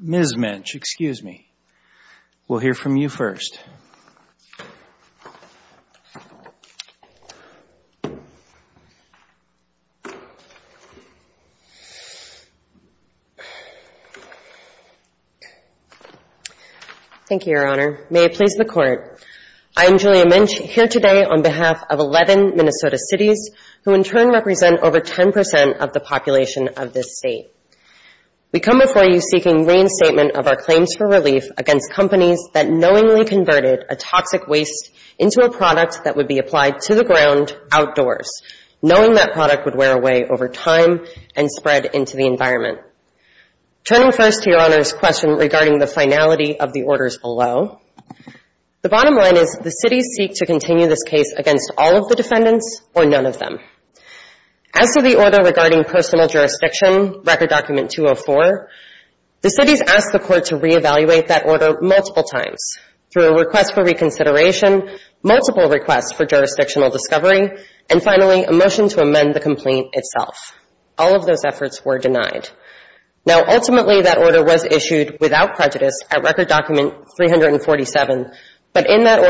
Ms. Minch, excuse me, we'll hear from you first. Thank you, Your Honor. May it please the Court, I am Julia Minch, here today on behalf of 11 Minnesota cities who in turn represent over 10% of the population of this state. We come before you seeking reinstatement of our claims for relief against companies that knowingly converted a toxic waste into a product that would be applied to the ground outdoors, knowing that product would wear away over time and spread into the environment. Turning first to Your Honor's question regarding the finality of the orders below, the bottom line is the cities seek to continue this case against all of the defendants or none of them. As to the order regarding personal jurisdiction, Record Document 204, the cities asked the Court to re-evaluate that order multiple times through a request for reconsideration, multiple requests for jurisdictional discovery, and finally a motion to amend the complaint itself. All of those efforts were denied. Now, ultimately that order was issued without prejudice at Record Document 347, but in that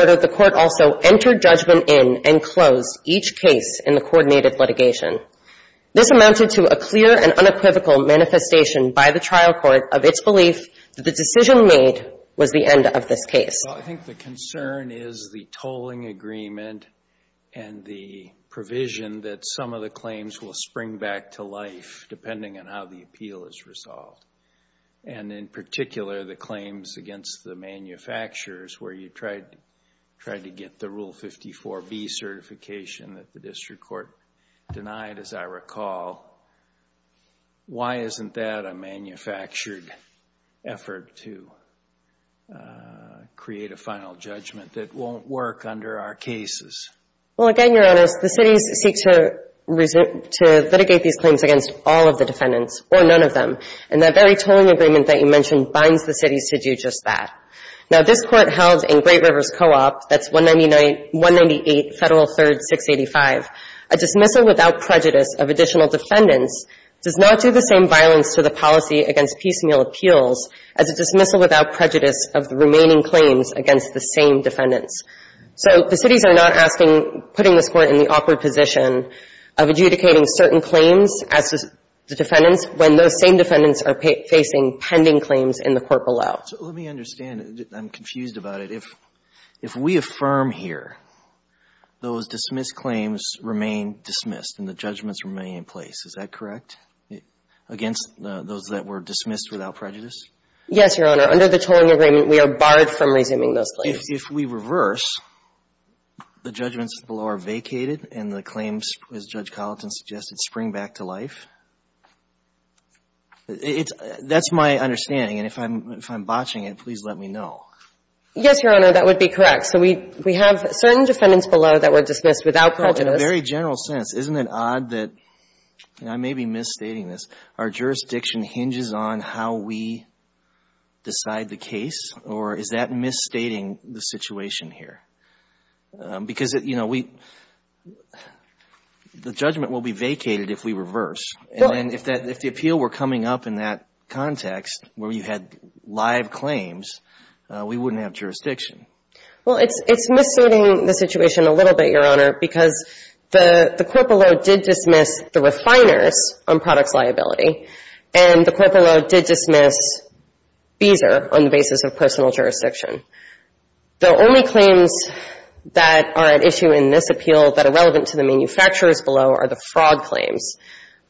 This amounted to a clear and unequivocal manifestation by the trial court of its belief that the decision made was the end of this case. Well, I think the concern is the tolling agreement and the provision that some of the claims will spring back to life depending on how the appeal is resolved, and in particular the claims against the manufacturers where you tried to get the Rule 54B certification that the district court denied, as I recall. Why isn't that a manufactured effort to create a final judgment that won't work under our cases? Well, again, Your Honor, the cities seek to litigate these claims against all of the defendants or none of them, and that very tolling agreement that you mentioned binds the cities to do just that. Now, this Court held in Great Rivers Co-op, that's 198 Federal 3rd, 685, a dismissal without prejudice of additional defendants does not do the same violence to the policy against piecemeal appeals as a dismissal without prejudice of the remaining claims against the same defendants. So the cities are not asking, putting this Court in the awkward position of adjudicating certain claims as the defendants when those same defendants are facing pending claims in the court below. So let me understand. I'm confused about it. If we affirm here those dismissed claims remain dismissed and the judgments remain in place, is that correct, against those that were dismissed without prejudice? Yes, Your Honor. Under the tolling agreement, we are barred from resuming those claims. If we reverse, the judgments below are vacated and the claims, as Judge Colleton suggested, spring back to life. That's my understanding, and if I'm botching it, please let me know. Yes, Your Honor, that would be correct. So we have certain defendants below that were dismissed without prejudice. In a very general sense, isn't it odd that, and I may be misstating this, our jurisdiction hinges on how we decide the case, or is that misstating the situation here? Because, you know, the judgment will be vacated if we reverse. And if the appeal were coming up in that context, where you had live claims, we wouldn't have jurisdiction. Well, it's misstating the situation a little bit, Your Honor, because the court below did dismiss the refiners on products liability, and the court below did dismiss Beezer on the basis of personal jurisdiction. The only claims that are at issue in this appeal that are relevant to the manufacturers below are the fraud claims.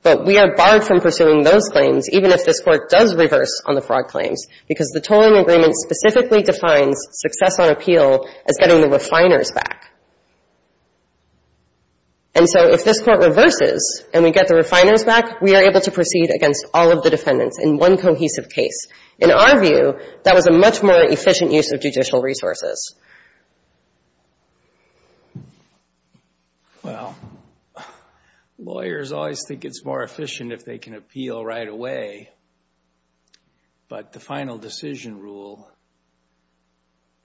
But we are barred from pursuing those claims, even if this Court does reverse on the fraud claims, because the tolling agreement specifically defines success on appeal as getting the refiners back. And so if this Court reverses and we get the refiners back, we are able to proceed against all of the defendants in one cohesive case. In our view, that was a much more efficient use of judicial resources. Well, lawyers always think it's more efficient if they can appeal right away, but the final decision rule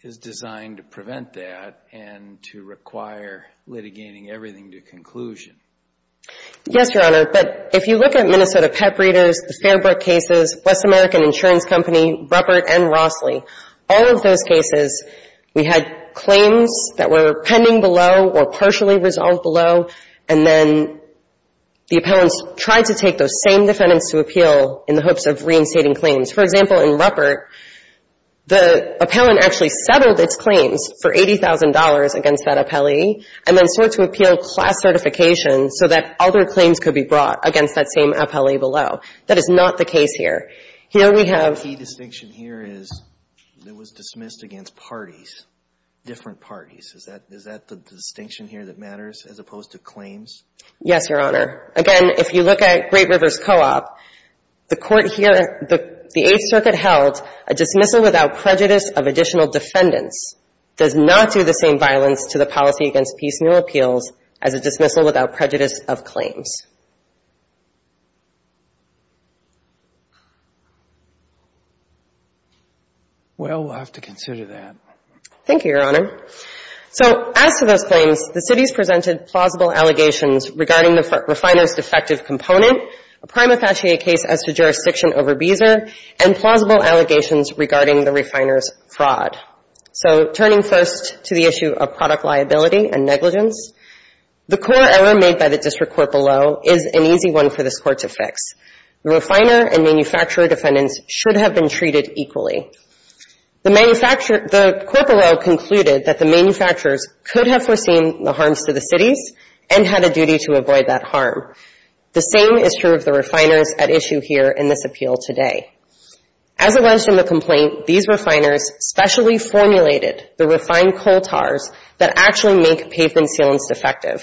is designed to prevent that and to require litigating everything to conclusion. Yes, Your Honor, but if you look at Minnesota Pep Readers, the Fairbrook cases, West American Insurance Company, Ruppert and Rossley, all of those cases, we had claims that were pending below or partially resolved below, and then the appellants tried to take those same defendants to appeal in the hopes of reinstating claims. For example, in Ruppert, the appellant actually settled its claims for $80,000 against that appellee and then sought to appeal class certification so that other claims could be brought against that same appellee below. That is not the case here. Here we have — The key distinction here is it was dismissed against parties, different parties. Is that the distinction here that matters as opposed to claims? Yes, Your Honor. Again, if you look at Great Rivers Co-op, the Court here, the Eighth Circuit held a dismissal without prejudice of additional defendants does not do the same violence to the policy against piecemeal appeals as a dismissal without prejudice of claims. Well, we'll have to consider that. Thank you, Your Honor. So as to those claims, the cities presented plausible allegations regarding the refiner's defective component, a prime affache case as to jurisdiction over Beezer, and plausible allegations regarding the refiner's fraud. So turning first to the issue of product liability and negligence, the core error made by the District Court below is an easy one for this Court to fix. The refiner and manufacturer defendants should have been treated equally. The manufacturer — the court below concluded that the manufacturers could have foreseen the harms to the cities and had a duty to avoid that harm. The same is true of the refiners at issue here in this appeal today. As it was in the complaint, these refiners specially formulated the refined coal tars that actually make pavement sealants defective,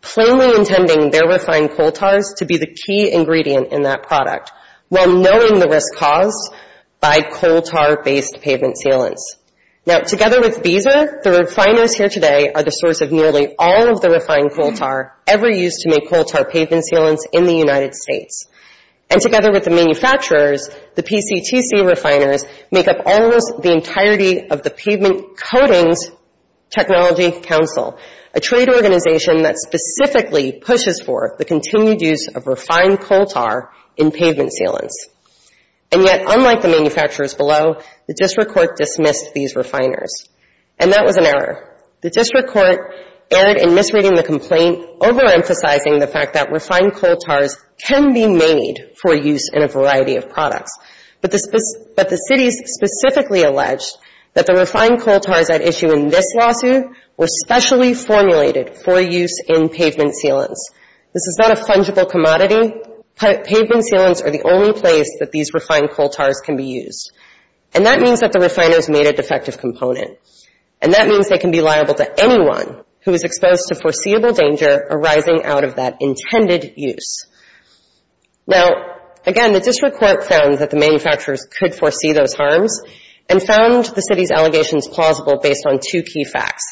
plainly intending their refined coal tars to be the key ingredient in that product while knowing the risk caused by coal tar-based pavement sealants. Now, together with Beezer, the refiners here today are the source of nearly all of the refined coal tar ever used to make coal tar pavement sealants in the United States. And together with the manufacturers, the PCTC refiners make up almost the entirety of the Technology Council, a trade organization that specifically pushes for the continued use of refined coal tar in pavement sealants. And yet, unlike the manufacturers below, the District Court dismissed these refiners. And that was an error. The District Court erred in misreading the complaint, overemphasizing the fact that refined coal tars can be made for use in a variety of products. But the cities specifically alleged that the refined coal tars at issue in this lawsuit were specially formulated for use in pavement sealants. This is not a fungible commodity. Pavement sealants are the only place that these refined coal tars can be used. And that means that the refiners made a defective component. And that means they can be liable to anyone who is exposed to foreseeable danger arising out of that intended use. Now, again, the District Court found that the manufacturers could foresee those harms and found the city's allegations plausible based on two key facts.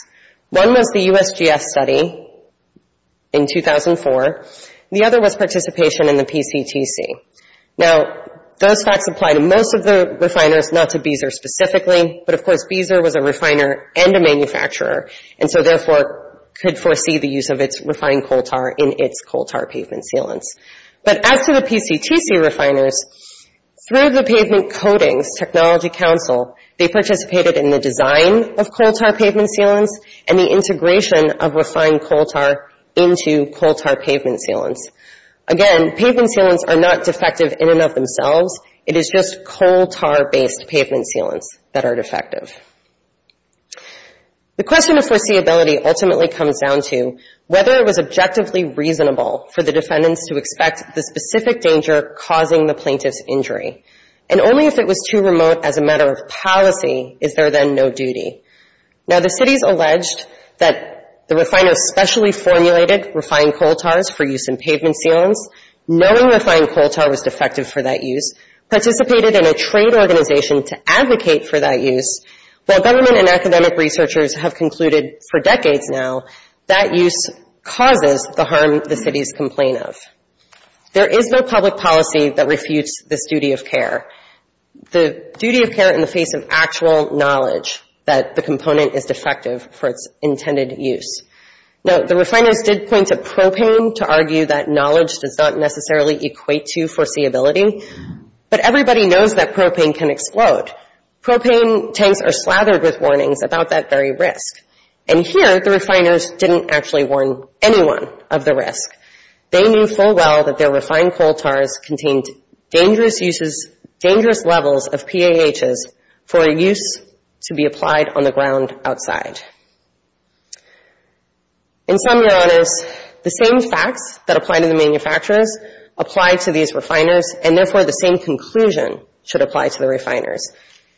One was the USGS study in 2004. The other was participation in the PCTC. Now, those facts apply to most of the refiners, not to Beezer specifically. But of course, Beezer was a refiner and a manufacturer, and so therefore could foresee the use of its refined coal tar in its coal tar pavement sealants. But as to the PCTC refiners, through the Pavement Codings Technology Council, they participated in the design of coal tar pavement sealants and the integration of refined coal tar into coal tar pavement sealants. Again, pavement sealants are not defective in and of themselves. It is just coal tar-based pavement sealants that are defective. The question of foreseeability ultimately comes down to whether it was objectively reasonable for the defendants to expect the specific danger causing the plaintiff's injury. And only if it was too remote as a matter of policy is there then no duty. Now, the cities alleged that the refiners specially formulated refined coal tars for use in pavement sealants, knowing refined coal tar was defective for that use, participated in a trade organization to advocate for that use. While government and academic researchers have concluded for decades now that use causes the harm the cities complain of. There is no public policy that refutes this duty of care. The duty of care in the face of actual knowledge that the component is defective for its intended use. Now, the refiners did point to propane to argue that knowledge does not necessarily equate to foreseeability. But everybody knows that propane can explode. Propane tanks are slathered with warnings about that very risk. And here the refiners didn't actually warn anyone of the risk. They knew full well that their refined coal tars contained dangerous uses, dangerous levels of PAHs for use to be applied on the ground outside. In sum, Your Honors, the same facts that apply to the manufacturers apply to these refiners and, therefore, the same conclusion should apply to the refiners.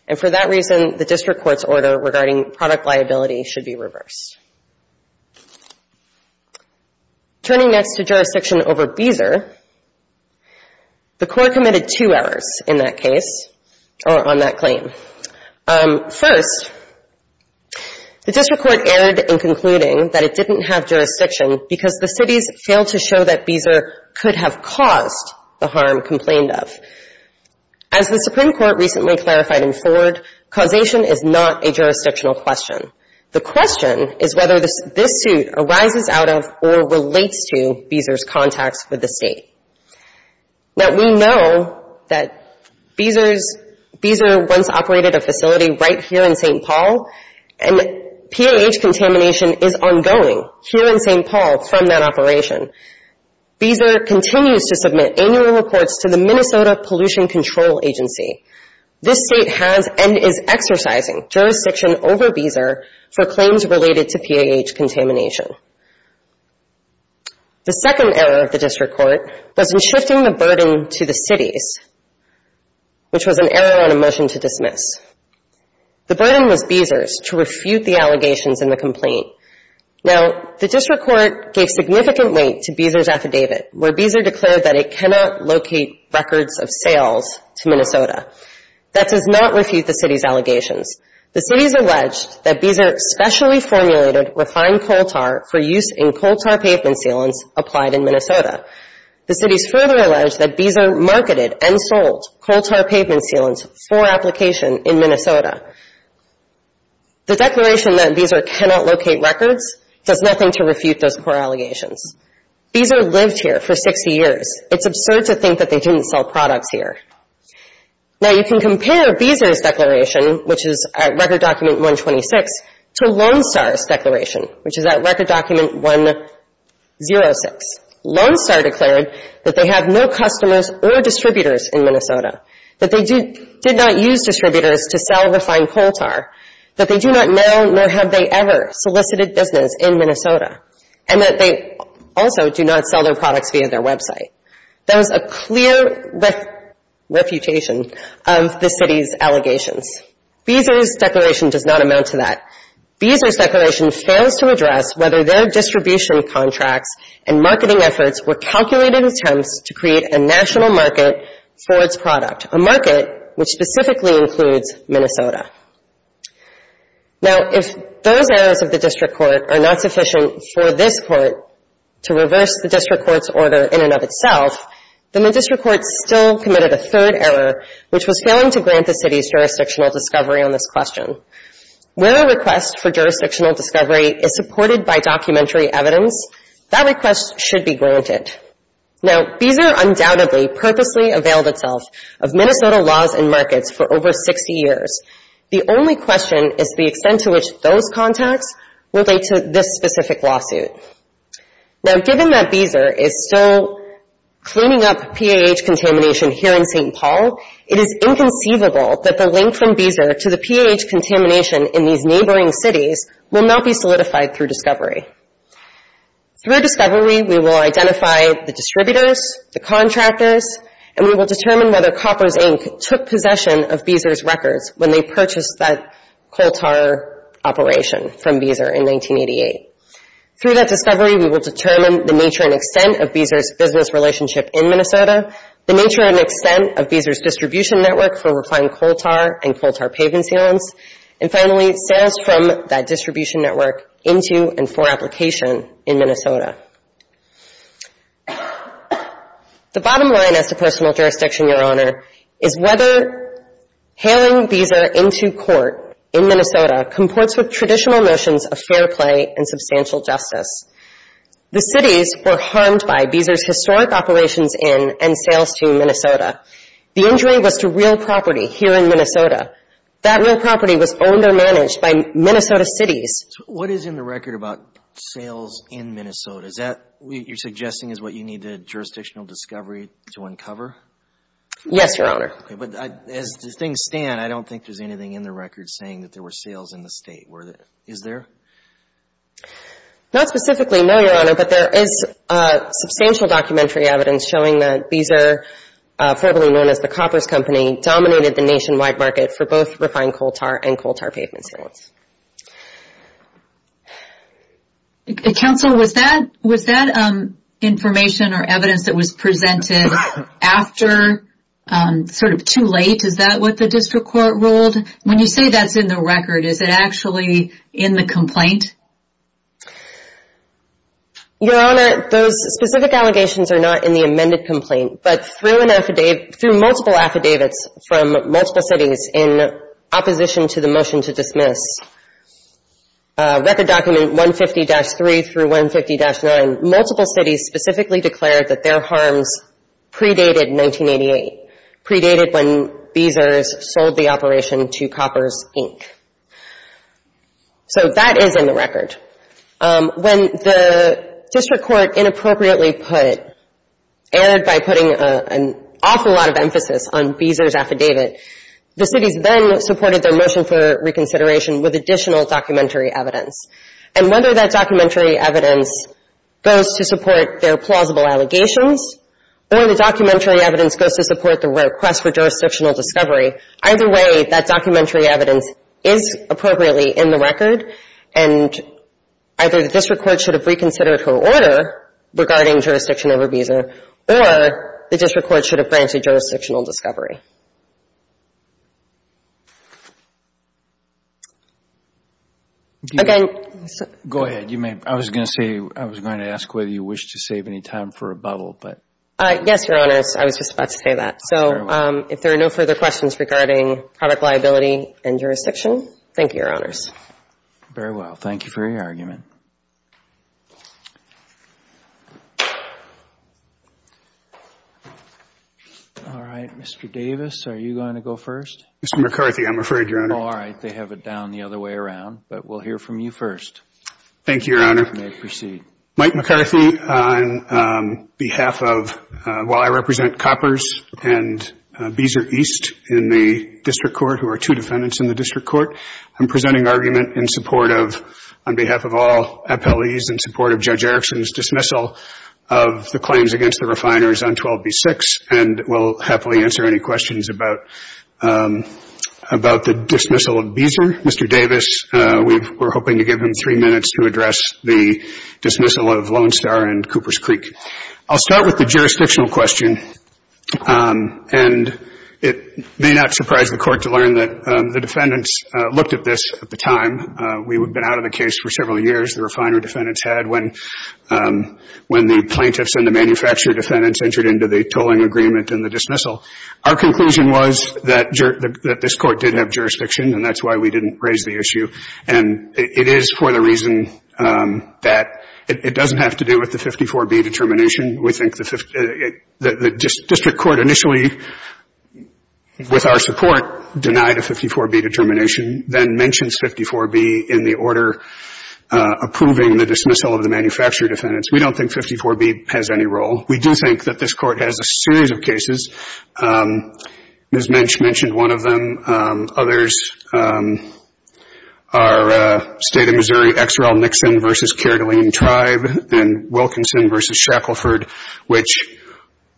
And for that reason, the District Court's order regarding product liability should be reversed. Turning next to jurisdiction over Beezer, the Court committed two errors in that case or on that claim. First, the District Court erred in concluding that it didn't have jurisdiction because the As the Supreme Court recently clarified in Ford, causation is not a jurisdictional question. The question is whether this suit arises out of or relates to Beezer's contacts with the State. Now, we know that Beezer once operated a facility right here in St. Paul, and PAH contamination is ongoing here in St. Paul from that operation. Beezer continues to submit annual reports to the Minnesota Pollution Control Agency. This State has and is exercising jurisdiction over Beezer for claims related to PAH contamination. The second error of the District Court was in shifting the burden to the cities, which was an error on a motion to dismiss. The burden was Beezer's to refute the allegations in the complaint. Now, the District Court gave significant weight to Beezer's affidavit, where Beezer declared that it cannot locate records of sales to Minnesota. That does not refute the city's allegations. The city has alleged that Beezer specially formulated refined coal tar for use in coal tar pavement sealants applied in Minnesota. The city has further alleged that Beezer marketed and sold coal tar pavement sealants for application in Minnesota. The declaration that Beezer cannot locate records does nothing to refute those core allegations. Beezer lived here for 60 years. It's absurd to think that they didn't sell products here. Now, you can compare Beezer's declaration, which is at Record Document 126, to Lone Star's declaration, which is at Record Document 106. Lone Star declared that they have no customers or distributors in Minnesota, that they did not use distributors to sell refined coal tar, that they do not know nor have they ever solicited business in Minnesota, and that they also do not sell their products via their website. There's a clear refutation of the city's allegations. Beezer's declaration does not amount to that. Beezer's declaration fails to address whether their distribution contracts and marketing efforts were calculated attempts to create a national market for its product, a market which specifically includes Minnesota. Now, if those errors of the district court are not sufficient for this court to reverse the district court's order in and of itself, then the district court still committed a third error, which was failing to grant the city's jurisdictional discovery on this question. Where a request for jurisdictional discovery is supported by documentary evidence, that request should be granted. Now, Beezer undoubtedly purposely availed itself of Minnesota laws and markets for over 60 years. The only question is the extent to which those contacts relate to this specific lawsuit. Now, given that Beezer is still cleaning up PAH contamination here in St. Paul, it is inconceivable that the link from Beezer to the PAH contamination in these neighboring cities will not be solidified through discovery. Through discovery, we will identify the distributors, the contractors, and we will determine whether Copper's Inc. took possession of Beezer's records when they purchased that coal tar operation from Beezer in 1988. Through that discovery, we will determine the nature and extent of Beezer's business relationship in Minnesota, the nature and extent of Beezer's distribution network for refined coal tar and coal tar pavement sealants, and finally, sales from that distribution network into and for application in Minnesota. The bottom line as to personal jurisdiction, Your Honor, is whether hailing Beezer into court in Minnesota comports with traditional notions of fair play and substantial justice. The cities were harmed by Beezer's historic operations in and sales to Minnesota. That real property was owned or managed by Minnesota cities. So what is in the record about sales in Minnesota? Is that what you're suggesting is what you need the jurisdictional discovery to uncover? Yes, Your Honor. Okay, but as things stand, I don't think there's anything in the record saying that there were sales in the state. Is there? Not specifically, no, Your Honor, but there is substantial documentary evidence showing that Beezer, formerly known as the Copper's Company, dominated the nationwide market for both refined coal tar and coal tar pavement sealants. Counsel, was that information or evidence that was presented after sort of too late? Is that what the district court ruled? When you say that's in the record, is it actually in the complaint? Your Honor, those specific allegations are not in the amended complaint, but through multiple affidavits from multiple cities in opposition to the motion to dismiss. Record document 150-3 through 150-9, multiple cities specifically declared that their harms predated 1988, predated when Beezer sold the operation to Copper's, Inc. So that is in the record. When the district court inappropriately put, erred by putting an awful lot of emphasis on Beezer's affidavit, the cities then supported their motion for reconsideration with additional documentary evidence. And whether that documentary evidence goes to support their plausible allegations or the documentary evidence goes to support the request for jurisdictional discovery, either way, that documentary evidence is appropriately in the record, and either the district court should have reconsidered her order regarding jurisdiction over Beezer, or the district court should have branched a jurisdictional discovery. Go ahead. I was going to ask whether you wished to save any time for a bubble. Yes, Your Honor. I was just about to say that. So if there are no further questions regarding product liability and jurisdiction, thank you, Your Honors. Very well. Thank you for your argument. All right. Mr. Davis, are you going to go first? Mr. McCarthy, I'm afraid, Your Honor. All right. They have it down the other way around, but we'll hear from you first. Thank you, Your Honor. You may proceed. Mike McCarthy, on behalf of, while I represent Coppers and Beezer East in the district court, who are two defendants in the district court, I'm presenting argument in support of, on behalf of all appellees, in support of Judge Erickson's dismissal of the claims against the refiners on 12b-6, and will happily answer any questions about the dismissal of Beezer. Mr. Davis, we're hoping to give him three minutes to address the dismissal of Lone Star and Cooper's Creek. I'll start with the jurisdictional question, and it may not surprise the Court to learn that the defendants looked at this at the time. We had been out of the case for several years, the refiner defendants had, when the plaintiffs and the manufacturer defendants entered into the tolling agreement and the dismissal. Our conclusion was that this Court did have jurisdiction, and that's why we didn't raise the issue. And it is for the reason that it doesn't have to do with the 54b determination. We think the district court initially, with our support, denied a 54b determination, then mentions 54b in the order approving the dismissal of the manufacturer defendants. We don't think 54b has any role. We do think that this Court has a series of cases. Ms. Mensch mentioned one of them. Others are State of Missouri, Exerell-Nixon v. Kerdelene Tribe and Wilkinson v. Shackleford, which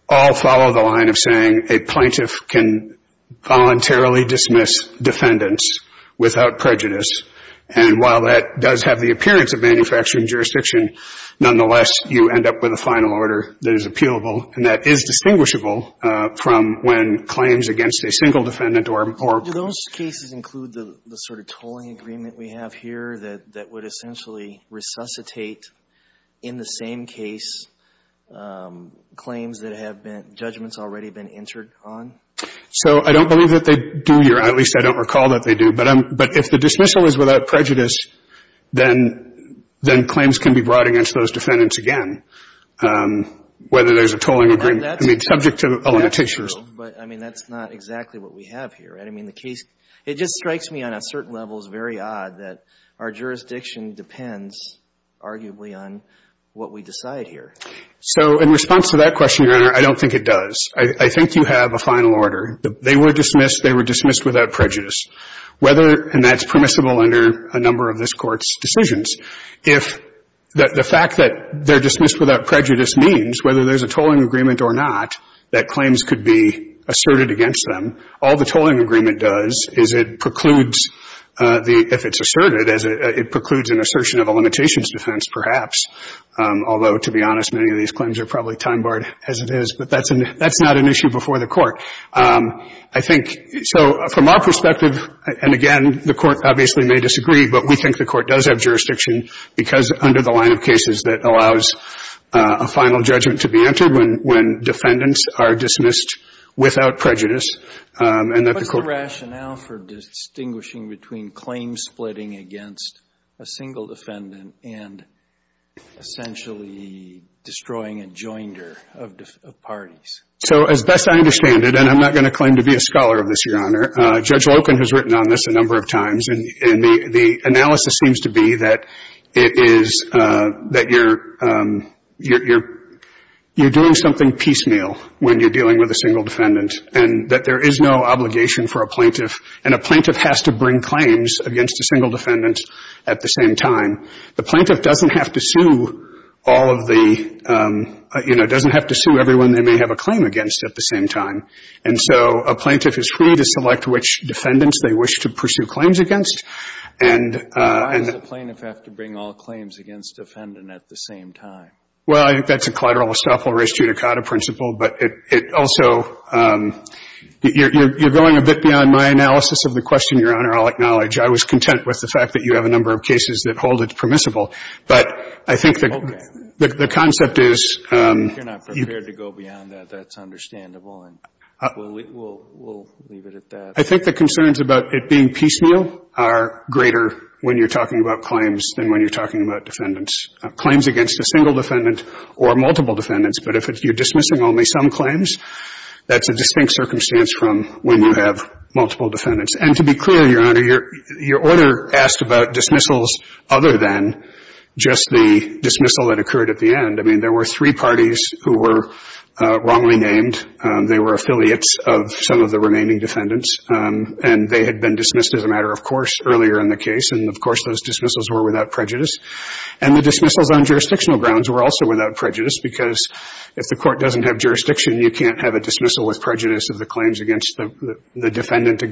all follow the line of saying a plaintiff can voluntarily dismiss defendants without prejudice. And while that does have the appearance of manufacturing jurisdiction, nonetheless, you end up with a final order that is appealable and that is distinguishable from when claims against a single defendant or a ---- Do those cases include the sort of tolling agreement we have here that would essentially resuscitate, in the same case, claims that have been judgments already been entered on? So I don't believe that they do, or at least I don't recall that they do. But if the dismissal is without prejudice, then claims can be brought against those defendants again, whether there's a tolling agreement. I mean, subject to a limitation. But, I mean, that's not exactly what we have here. I mean, the case, it just strikes me on a certain level, it's very odd, that our jurisdiction depends arguably on what we decide here. So in response to that question, Your Honor, I don't think it does. I think you have a final order. They were dismissed. They were dismissed without prejudice. Whether, and that's permissible under a number of this Court's decisions, if the fact that they're dismissed without prejudice means whether there's a tolling agreement or not, that claims could be asserted against them. All the tolling agreement does is it precludes the ---- if it's asserted, it precludes an assertion of a limitations defense, perhaps. Although, to be honest, many of these claims are probably time-barred as it is. But that's not an issue before the Court. I think, so from our perspective, and again, the Court obviously may disagree, but we think the Court does have jurisdiction because under the line of cases, that allows a final judgment to be entered when defendants are dismissed without prejudice. And that the Court ---- What's the rationale for distinguishing between claims splitting against a single defendant and essentially destroying a joinder of parties? So as best I understand it, and I'm not going to claim to be a scholar of this, Your Honor, Judge Loken has written on this a number of times, and the analysis seems to be that it is that you're doing something piecemeal when you're dealing with a single defendant and that there is no obligation for a plaintiff, and a plaintiff has to bring claims against a single defendant at the same time. The plaintiff doesn't have to sue all of the ---- you know, doesn't have to sue everyone they may have a claim against at the same time. And so a plaintiff is free to select which defendants they wish to pursue claims against. And ---- Why does a plaintiff have to bring all claims against a defendant at the same time? Well, I think that's a collateral estoppel res judicata principle. But it also ---- you're going a bit beyond my analysis of the question, Your Honor, I'll acknowledge. I was content with the fact that you have a number of cases that hold it permissible. But I think the ---- Okay. The concept is ---- If you're not prepared to go beyond that, that's understandable, and we'll leave it at that. I think the concerns about it being piecemeal are greater when you're talking about claims than when you're talking about defendants. Claims against a single defendant or multiple defendants, but if you're dismissing only some claims, that's a distinct circumstance from when you have multiple defendants. And to be clear, Your Honor, your order asked about dismissals other than just the dismissal that occurred at the end. I mean, there were three parties who were wrongly named. They were affiliates of some of the remaining defendants, and they had been dismissed as a matter of course earlier in the case. And, of course, those dismissals were without prejudice. And the dismissals on jurisdictional grounds were also without prejudice, because if the Court doesn't have jurisdiction, you can't have a dismissal with prejudice of the claims against the defendant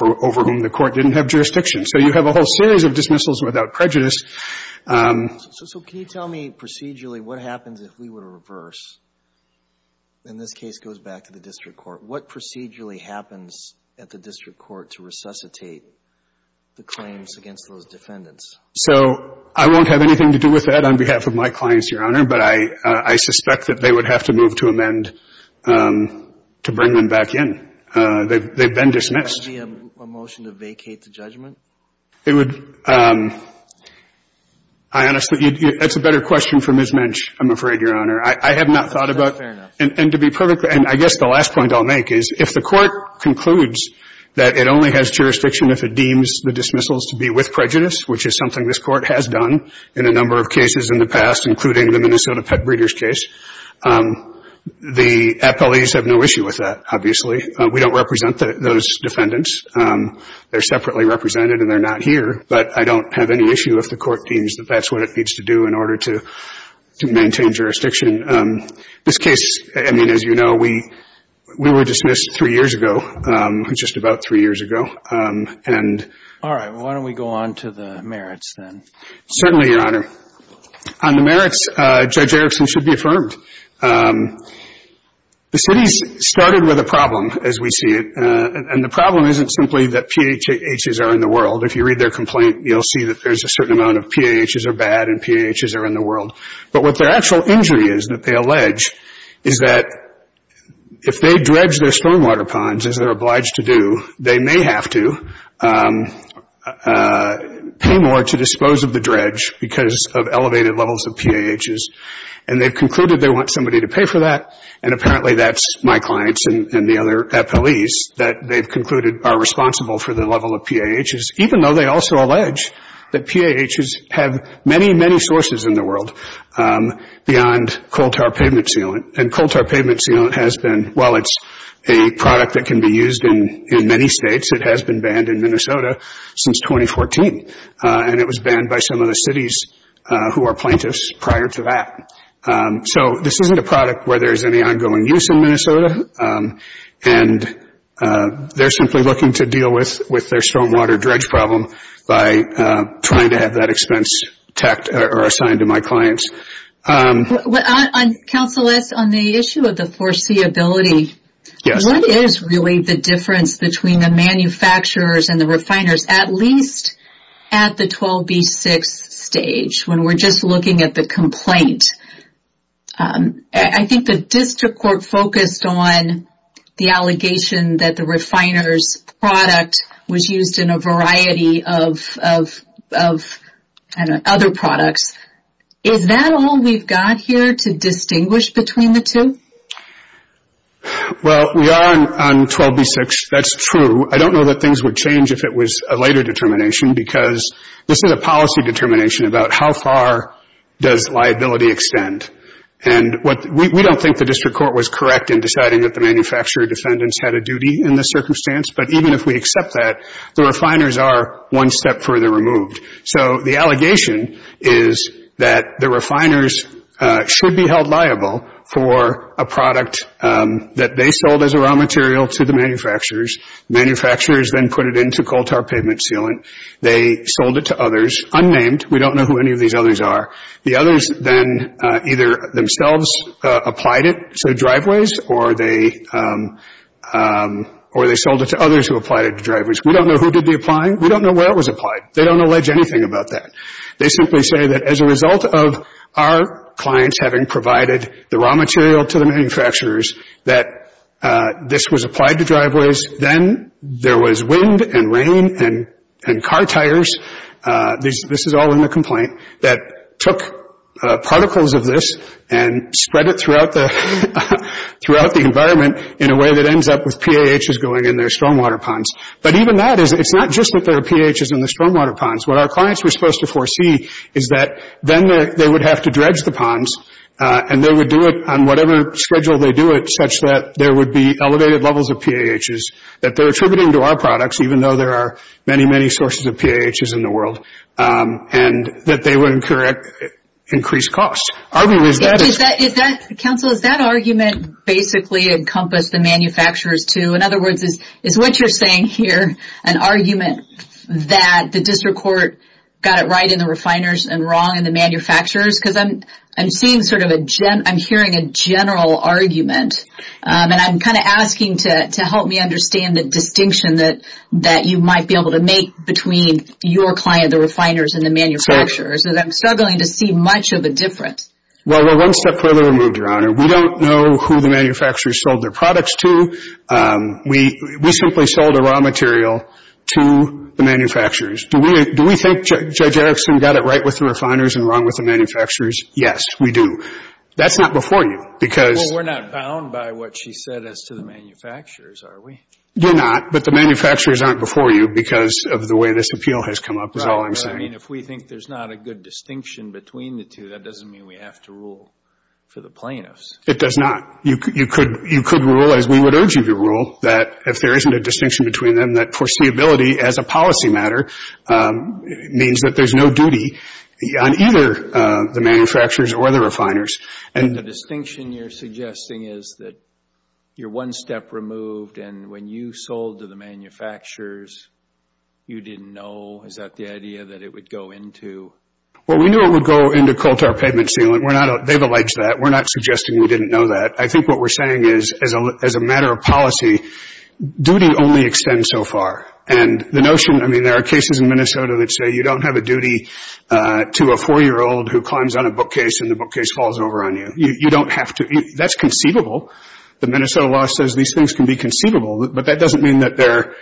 over whom the Court didn't have jurisdiction. So you have a whole series of dismissals without prejudice. So can you tell me procedurally what happens if we were to reverse, and this case goes back to the district court, what procedurally happens at the district court to resuscitate the claims against those defendants? So I won't have anything to do with that on behalf of my clients, Your Honor, but I suspect that they would have to move to amend to bring them back in. They've been dismissed. Would that be a motion to vacate the judgment? It would. I honestly, it's a better question for Ms. Mensch, I'm afraid, Your Honor. I have not thought about it. Fair enough. And to be perfectly, and I guess the last point I'll make is if the Court concludes that it only has jurisdiction if it deems the dismissals to be with prejudice, which is something this Court has done in a number of cases in the past, including the Minnesota Pet Breeders case, the appellees have no issue with that, obviously. We don't represent those defendants. They're separately represented and they're not here, but I don't have any issue if the Court deems that that's what it needs to do in order to maintain jurisdiction. This case, I mean, as you know, we were dismissed three years ago, just about three years ago. All right. Certainly, Your Honor. On the merits, Judge Erickson should be affirmed. The cities started with a problem, as we see it, and the problem isn't simply that PAHs are in the world. If you read their complaint, you'll see that there's a certain amount of PAHs are bad and PAHs are in the world. But what their actual injury is that they allege is that if they dredge their stormwater ponds, as they're obliged to do, they may have to pay more to dispose of the dredge because of elevated levels of PAHs. And they've concluded they want somebody to pay for that, and apparently that's my clients and the other appellees that they've concluded are responsible for the level of PAHs, even though they also allege that PAHs have many, many sources in the world beyond coal tar pavement sealant. And coal tar pavement sealant has been, while it's a product that can be used in many states, it has been banned in Minnesota since 2014, and it was banned by some of the cities who are plaintiffs prior to that. So this isn't a product where there's any ongoing use in Minnesota, and they're simply looking to deal with their stormwater dredge problem by trying to have that expense tacked or assigned to my clients. Counseless, on the issue of the foreseeability, what is really the difference between the manufacturers and the refiners, at least at the 12B6 stage, when we're just looking at the complaint? I think the district court focused on the allegation that the refiner's product was used in a variety of other products. Is that all we've got here to distinguish between the two? Well, we are on 12B6, that's true. I don't know that things would change if it was a later determination, because this is a policy determination about how far does liability extend. And we don't think the district court was correct in deciding that the manufacturer defendants had a duty in this circumstance, but even if we accept that, the refiners are one step further removed. So the allegation is that the refiners should be held liable for a product that they sold as a raw material to the manufacturers. Manufacturers then put it into coal tar pavement sealant. They sold it to others, unnamed. We don't know who any of these others are. The others then either themselves applied it to driveways, or they sold it to others who applied it to driveways. We don't know who did the applying. We don't know where it was applied. They don't allege anything about that. They simply say that as a result of our clients having provided the raw material to the manufacturers, that this was applied to driveways. Then there was wind and rain and car tires, this is all in the complaint, that took particles of this and spread it throughout the environment in a way that ends up with PAHs going in their stormwater ponds. But even that, it's not just that there are PAHs in the stormwater ponds. What our clients were supposed to foresee is that then they would have to dredge the ponds, and they would do it on whatever schedule they do it such that there would be elevated levels of PAHs that they're attributing to our products, even though there are many, many sources of PAHs in the world, and that they would incur increased costs. Counsel, does that argument basically encompass the manufacturers, too? In other words, is what you're saying here an argument that the district court got it right in the refiners and wrong in the manufacturers? I'm hearing a general argument, and I'm asking to help me understand the distinction that you might be able to make between your client, the refiners, and the manufacturers. And I'm struggling to see much of a difference. Well, we're one step further removed, Your Honor. We don't know who the manufacturers sold their products to. We simply sold the raw material to the manufacturers. Do we think Judge Erickson got it right with the refiners and wrong with the manufacturers? Yes, we do. That's not before you because — Well, we're not bound by what she said as to the manufacturers, are we? You're not, but the manufacturers aren't before you because of the way this appeal has come up is all I'm saying. I mean, if we think there's not a good distinction between the two, that doesn't mean we have to rule for the plaintiffs. It does not. You could rule, as we would urge you to rule, that if there isn't a distinction between them, that foreseeability as a policy matter means that there's no duty on either the manufacturers or the refiners. The distinction you're suggesting is that you're one step removed, and when you sold to the manufacturers, you didn't know. Is that the idea that it would go into? Well, we knew it would go into coal-to-air pavement sealant. They've alleged that. We're not suggesting we didn't know that. I think what we're saying is, as a matter of policy, duty only extends so far. And the notion — I mean, there are cases in Minnesota that say you don't have a duty to a 4-year-old who climbs on a bookcase and the bookcase falls over on you. You don't have to — that's conceivable. The Minnesota law says these things can be conceivable, but that doesn't mean that they're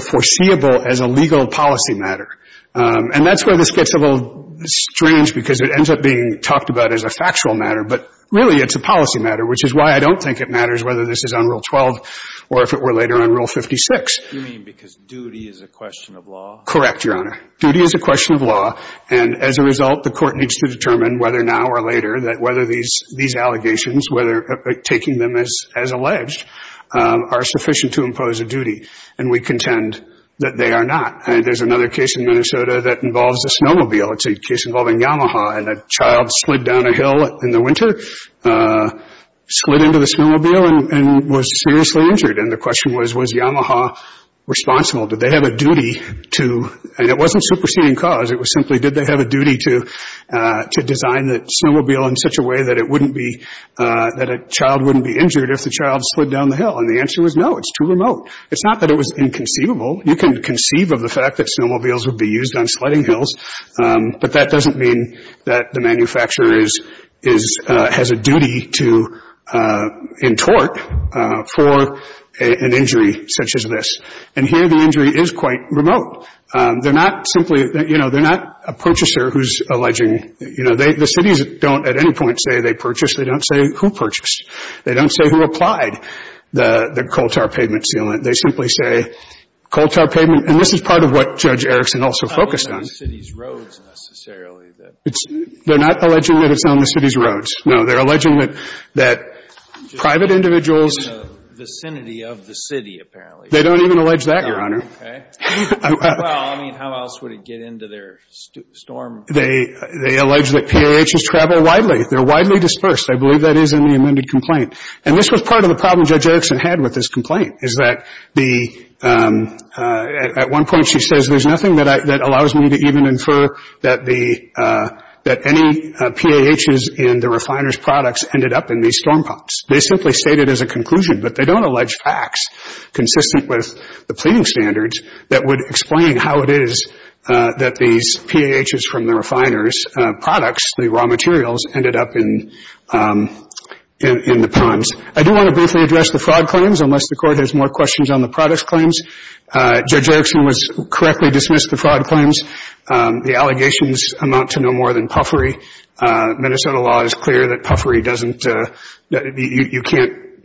foreseeable as a legal policy matter. And that's where this gets a little strange because it ends up being talked about as a factual matter, but really it's a policy matter, which is why I don't think it matters whether this is on Rule 12 or if it were later on Rule 56. You mean because duty is a question of law? Correct, Your Honor. Duty is a question of law, and as a result, the Court needs to determine whether now or later that whether these allegations, whether taking them as alleged, are sufficient to impose a duty. And we contend that they are not. And there's another case in Minnesota that involves a snowmobile. It's a case involving Yamaha, and a child slid down a hill in the winter, slid into the snowmobile, and was seriously injured. And the question was, was Yamaha responsible? Did they have a duty to — and it wasn't superseding cause. It was simply, did they have a duty to design the snowmobile in such a way that it wouldn't be — that a child wouldn't be injured if the child slid down the hill? And the answer was no. It's too remote. It's not that it was inconceivable. You can conceive of the fact that snowmobiles would be used on sledding hills, but that doesn't mean that the manufacturer is — has a duty to entort for an injury such as this. And here the injury is quite remote. They're not simply — you know, they're not a purchaser who's alleging — you know, the cities don't at any point say they purchased. They don't say who purchased. They don't say who applied the coal tar pavement sealant. They simply say coal tar pavement — and this is part of what Judge Erickson also focused on. It's not on the city's roads, necessarily. They're not alleging that it's on the city's roads. No, they're alleging that private individuals — Just in the vicinity of the city, apparently. They don't even allege that, Your Honor. Okay. Well, I mean, how else would it get into their storm? They allege that PAHs travel widely. They're widely dispersed. I believe that is in the amended complaint. And this was part of the problem Judge Erickson had with this complaint is that the — at one point she says, there's nothing that allows me to even infer that the — that any PAHs in the refiner's products ended up in these storm pumps. They simply state it as a conclusion, but they don't allege facts consistent with the pleading standards that would explain how it is that these PAHs from the refiners' products, the raw materials, ended up in the pumps. I do want to briefly address the fraud claims, unless the Court has more questions on the product claims. Judge Erickson was — correctly dismissed the fraud claims. The allegations amount to no more than puffery. Minnesota law is clear that puffery doesn't — that you can't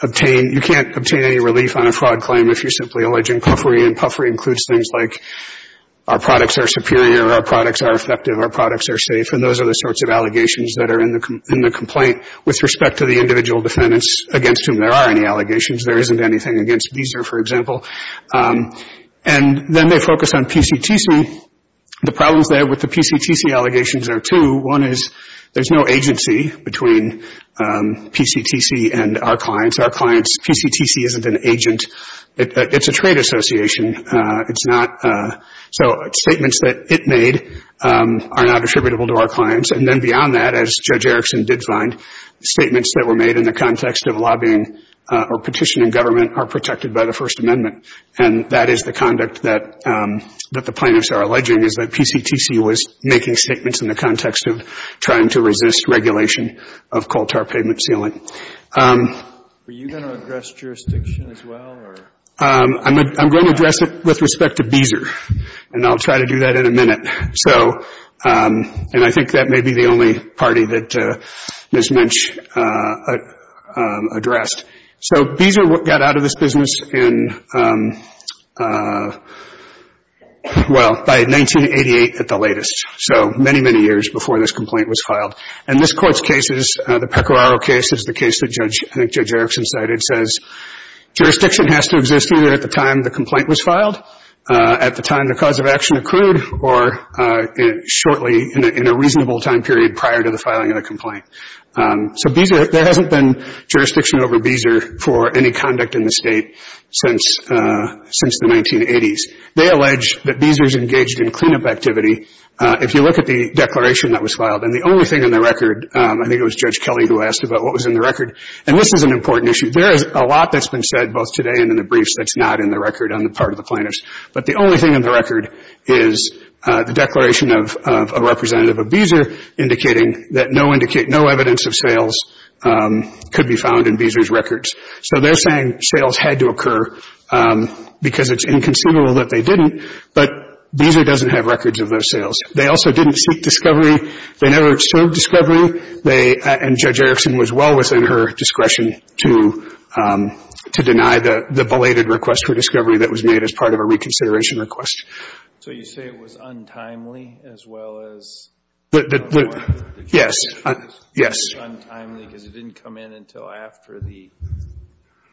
obtain — you can't obtain any relief on a fraud claim if you're simply alleging puffery. And puffery includes things like our products are superior, our products are effective, our products are safe. And those are the sorts of allegations that are in the complaint with respect to the individual defendants against whom there are any allegations. There isn't anything against Beezer, for example. And then they focus on PCTC. The problems there with the PCTC allegations are two. One is there's no agency between PCTC and our clients. Our clients — PCTC isn't an agent. It's a trade association. It's not — so statements that it made are not attributable to our clients. And then beyond that, as Judge Erickson did find, statements that were made in the context of lobbying or petitioning government are protected by the First Amendment. And that is the conduct that the plaintiffs are alleging, is that PCTC was making statements in the context of trying to resist regulation of coal tar payment sealing. Are you going to address jurisdiction as well? I'm going to address it with respect to Beezer. And I'll try to do that in a minute. So — and I think that may be the only party that Ms. Minch addressed. So Beezer got out of this business in — well, by 1988 at the latest. So many, many years before this complaint was filed. And this Court's case is — the Pecoraro case is the case that Judge — I think Judge Erickson cited — says jurisdiction has to exist either at the time the complaint was filed, at the time the cause of action accrued, or shortly, in a reasonable time period prior to the filing of the complaint. So Beezer — there hasn't been jurisdiction over Beezer for any conduct in the State since the 1980s. They allege that Beezer's engaged in cleanup activity. If you look at the declaration that was filed, and the only thing in the record — I think it was Judge Kelly who asked about what was in the record. And this is an important issue. There is a lot that's been said both today and in the briefs that's not in the record on the part of the plaintiffs. But the only thing in the record is the declaration of a representative of Beezer indicating that no evidence of sales could be found in Beezer's records. So they're saying sales had to occur because it's inconsiderable that they didn't. But Beezer doesn't have records of those sales. They also didn't seek discovery. They never observed discovery. And Judge Erickson was well within her discretion to deny the belated request for discovery that was made as part of a reconsideration request. So you say it was untimely as well as — Yes. Yes. Untimely because it didn't come in until after the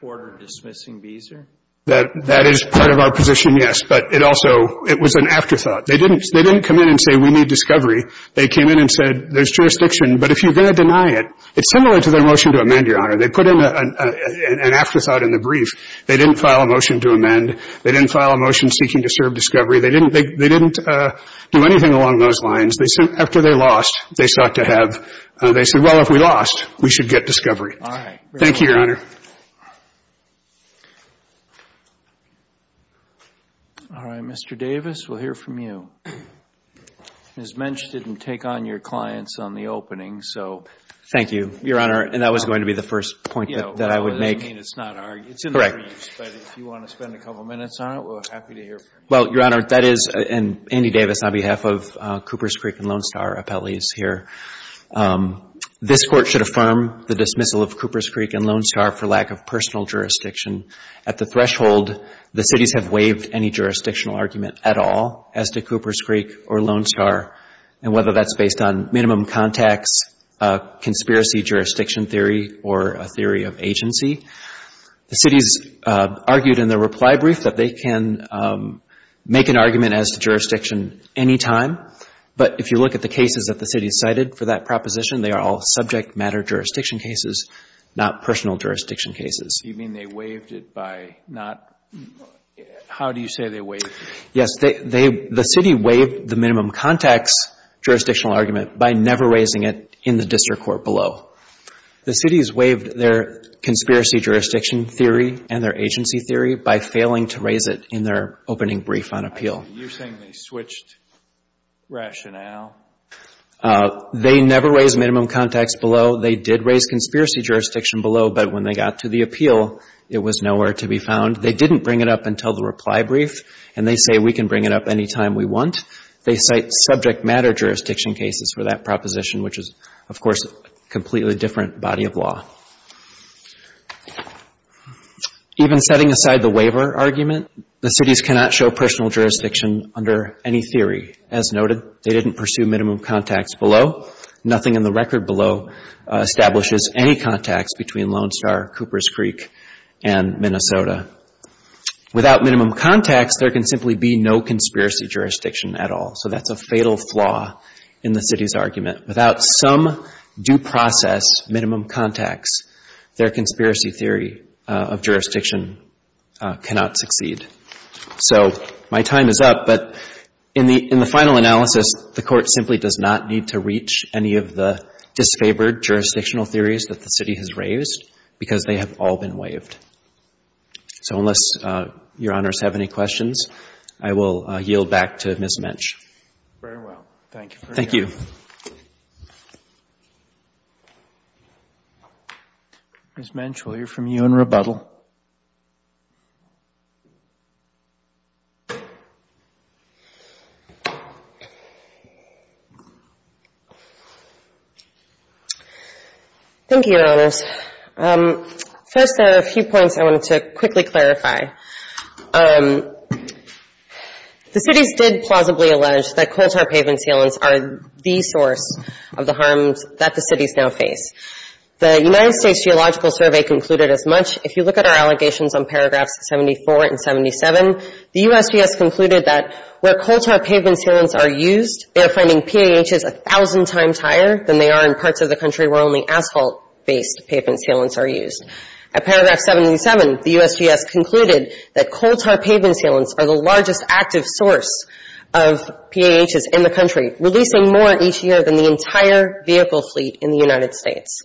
order dismissing Beezer? That is part of our position, yes. But it also — it was an afterthought. They didn't come in and say we need discovery. They came in and said there's jurisdiction. But if you're going to deny it, it's similar to their motion to amend, Your Honor. They put in an afterthought in the brief. They didn't file a motion to amend. They didn't seek discovery. They didn't do anything along those lines. After they lost, they sought to have — they said, well, if we lost, we should get discovery. All right. Thank you, Your Honor. All right. Mr. Davis, we'll hear from you. Ms. Mensch didn't take on your clients on the opening, so — Thank you, Your Honor. And that was going to be the first point that I would make. I mean, it's not our — it's in the briefs. Correct. But if you want to spend a couple minutes on it, we're happy to hear from you. Well, Your Honor, that is — and Andy Davis, on behalf of Cooper's Creek and Lone Star appellees here. This Court should affirm the dismissal of Cooper's Creek and Lone Star for lack of personal jurisdiction. At the threshold, the cities have waived any jurisdictional argument at all as to Cooper's Creek or Lone Star, and whether that's based on minimum contacts, conspiracy jurisdiction theory, or a theory of agency. The cities argued in their reply brief that they can make an argument as to jurisdiction any time. But if you look at the cases that the cities cited for that proposition, they are all subject matter jurisdiction cases, not personal jurisdiction cases. You mean they waived it by not — how do you say they waived it? Yes. The city waived the minimum contacts jurisdictional argument by never raising it in the district court below. The cities waived their conspiracy jurisdiction theory and their agency theory by failing to raise it in their opening brief on appeal. You're saying they switched rationale? They never raised minimum contacts below. They did raise conspiracy jurisdiction below, but when they got to the appeal, it was nowhere to be found. They didn't bring it up until the reply brief, and they say we can bring it up any time we want. They cite subject matter jurisdiction cases for that proposition, which is, of course, a completely different body of law. Even setting aside the waiver argument, the cities cannot show personal jurisdiction under any theory. As noted, they didn't pursue minimum contacts below. Nothing in the record below establishes any contacts between Lone Star, Cooper's Creek, and Minnesota. Without minimum contacts, there can simply be no conspiracy jurisdiction at all, so that's a fatal flaw in the city's argument. Without some due process minimum contacts, their conspiracy theory of jurisdiction cannot succeed. So my time is up, but in the final analysis, the Court simply does not need to reach any of the disfavored jurisdictional theories that the city has raised because they have all been waived. So unless Your Honors have any questions, I will yield back to Ms. Mensch. Very well. Thank you. Thank you. Ms. Mensch, we'll hear from you in rebuttal. Thank you, Your Honors. First, there are a few points I wanted to quickly clarify. The cities did plausibly allege that coal tar pavement sealants are the source of the harms that the cities now face. The United States Geological Survey concluded as much. If you look at our allegations on paragraphs 74 and 77, the USGS concluded that where coal tar pavement sealants are used, they are finding PAHs a thousand times higher than they are in parts of the country where only asphalt-based pavement sealants are used. At paragraph 77, the USGS concluded that coal tar pavement sealants are the largest active source of PAHs in the country, releasing more each year than the entire vehicle fleet in the United States.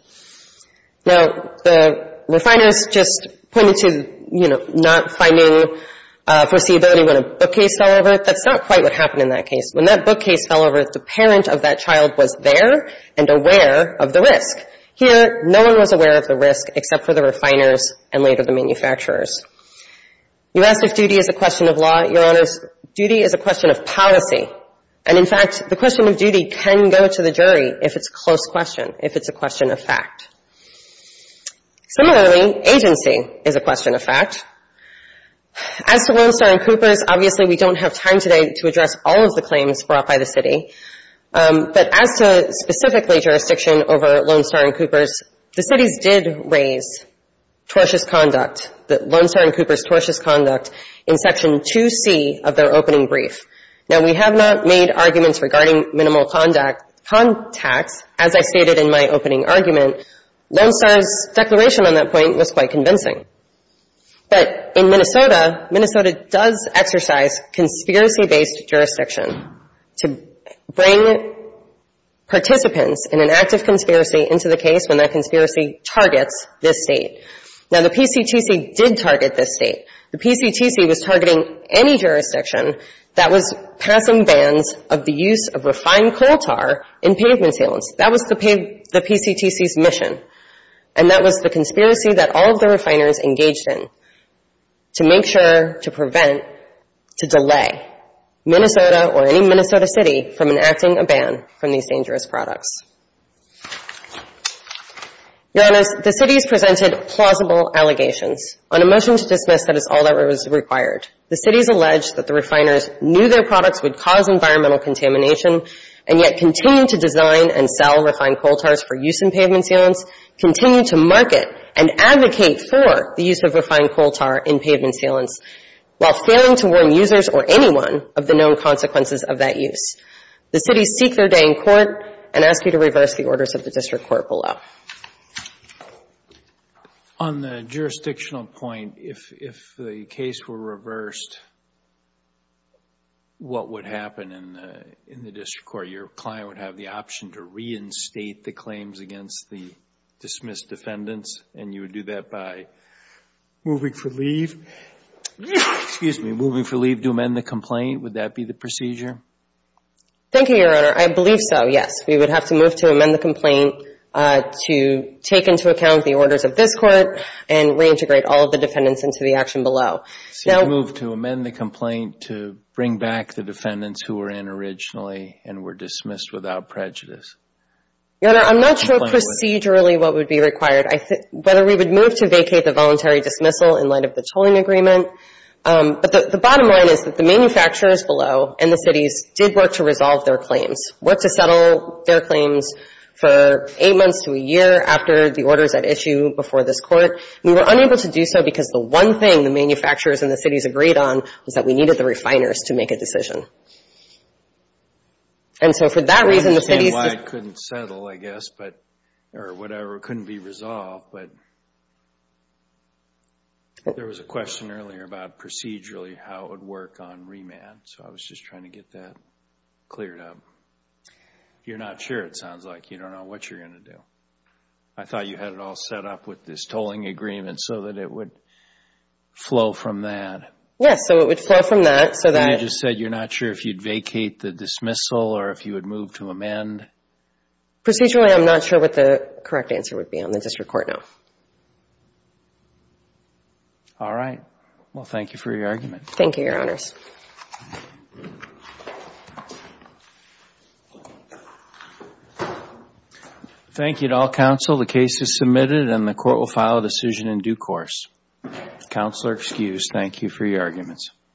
Now, the refiners just pointed to, you know, not finding foreseeability when a bookcase fell over. That's not quite what happened in that case. When that bookcase fell over, the parent of that child was there and aware of the risk. Here, no one was aware of the risk except for the refiners and later the manufacturers. You asked if duty is a question of law. Your Honors, duty is a question of policy. And, in fact, the question of duty can go to the jury if it's a close question, if it's a question of fact. Similarly, agency is a question of fact. As to Lone Star and Cooper's, obviously, we don't have time today to address all of the claims brought by the city. But as to specifically jurisdiction over Lone Star and Cooper's, the cities did raise tortuous conduct, Lone Star and Cooper's tortuous conduct, in Section 2C of their opening brief. Now, we have not made arguments regarding minimal contacts, as I stated in my opening argument. Lone Star's declaration on that point was quite convincing. But in Minnesota, Minnesota does exercise conspiracy-based jurisdiction to bring participants in an act of conspiracy into the case when that conspiracy targets this State. The PCTC was targeting any jurisdiction that was passing bans of the use of refined coal tar in pavement sales. That was the PCTC's mission. And that was the conspiracy that all of the refiners engaged in to make sure to prevent, to delay, Minnesota or any Minnesota city from enacting a ban from these dangerous products. Your Honors, the cities presented plausible allegations. On a motion to dismiss, that is all that was required. The cities alleged that the refiners knew their products would cause environmental contamination and yet continued to design and sell refined coal tars for use in pavement salience, continued to market and advocate for the use of refined coal tar in pavement salience, while failing to warn users or anyone of the known consequences of that use. The cities seek their day in court and ask you to reverse the orders of the District Court below. On the jurisdictional point, if the case were reversed, what would happen in the District Court? Your client would have the option to reinstate the claims against the dismissed defendants, and you would do that by moving for leave? Excuse me. Moving for leave to amend the complaint, would that be the procedure? Thank you, Your Honor. I believe so, yes. We would have to move to amend the complaint to take into account the orders of this Court and reintegrate all of the defendants into the action below. So you would move to amend the complaint to bring back the defendants who were in originally and were dismissed without prejudice? Your Honor, I'm not sure procedurally what would be required. I think whether we would move to vacate the voluntary dismissal in light of the tolling agreement. But the bottom line is that the manufacturers below and the cities did work to resolve their claims, worked to settle their claims for eight months to a year after the orders at issue before this Court. We were unable to do so because the one thing the manufacturers and the cities agreed on was that we needed the refiners to make a decision. And so for that reason, the cities... or whatever, couldn't be resolved. But there was a question earlier about procedurally how it would work on remand. So I was just trying to get that cleared up. You're not sure, it sounds like. You don't know what you're going to do. I thought you had it all set up with this tolling agreement so that it would flow from that. Yes, so it would flow from that so that... You just said you're not sure if you'd vacate the dismissal or if you would move to amend. Procedurally, I'm not sure what the correct answer would be on the district court now. All right. Well, thank you for your argument. Thank you, Your Honors. Thank you to all counsel. The case is submitted and the court will file a decision in due course. Counselor excused. Thank you for your arguments.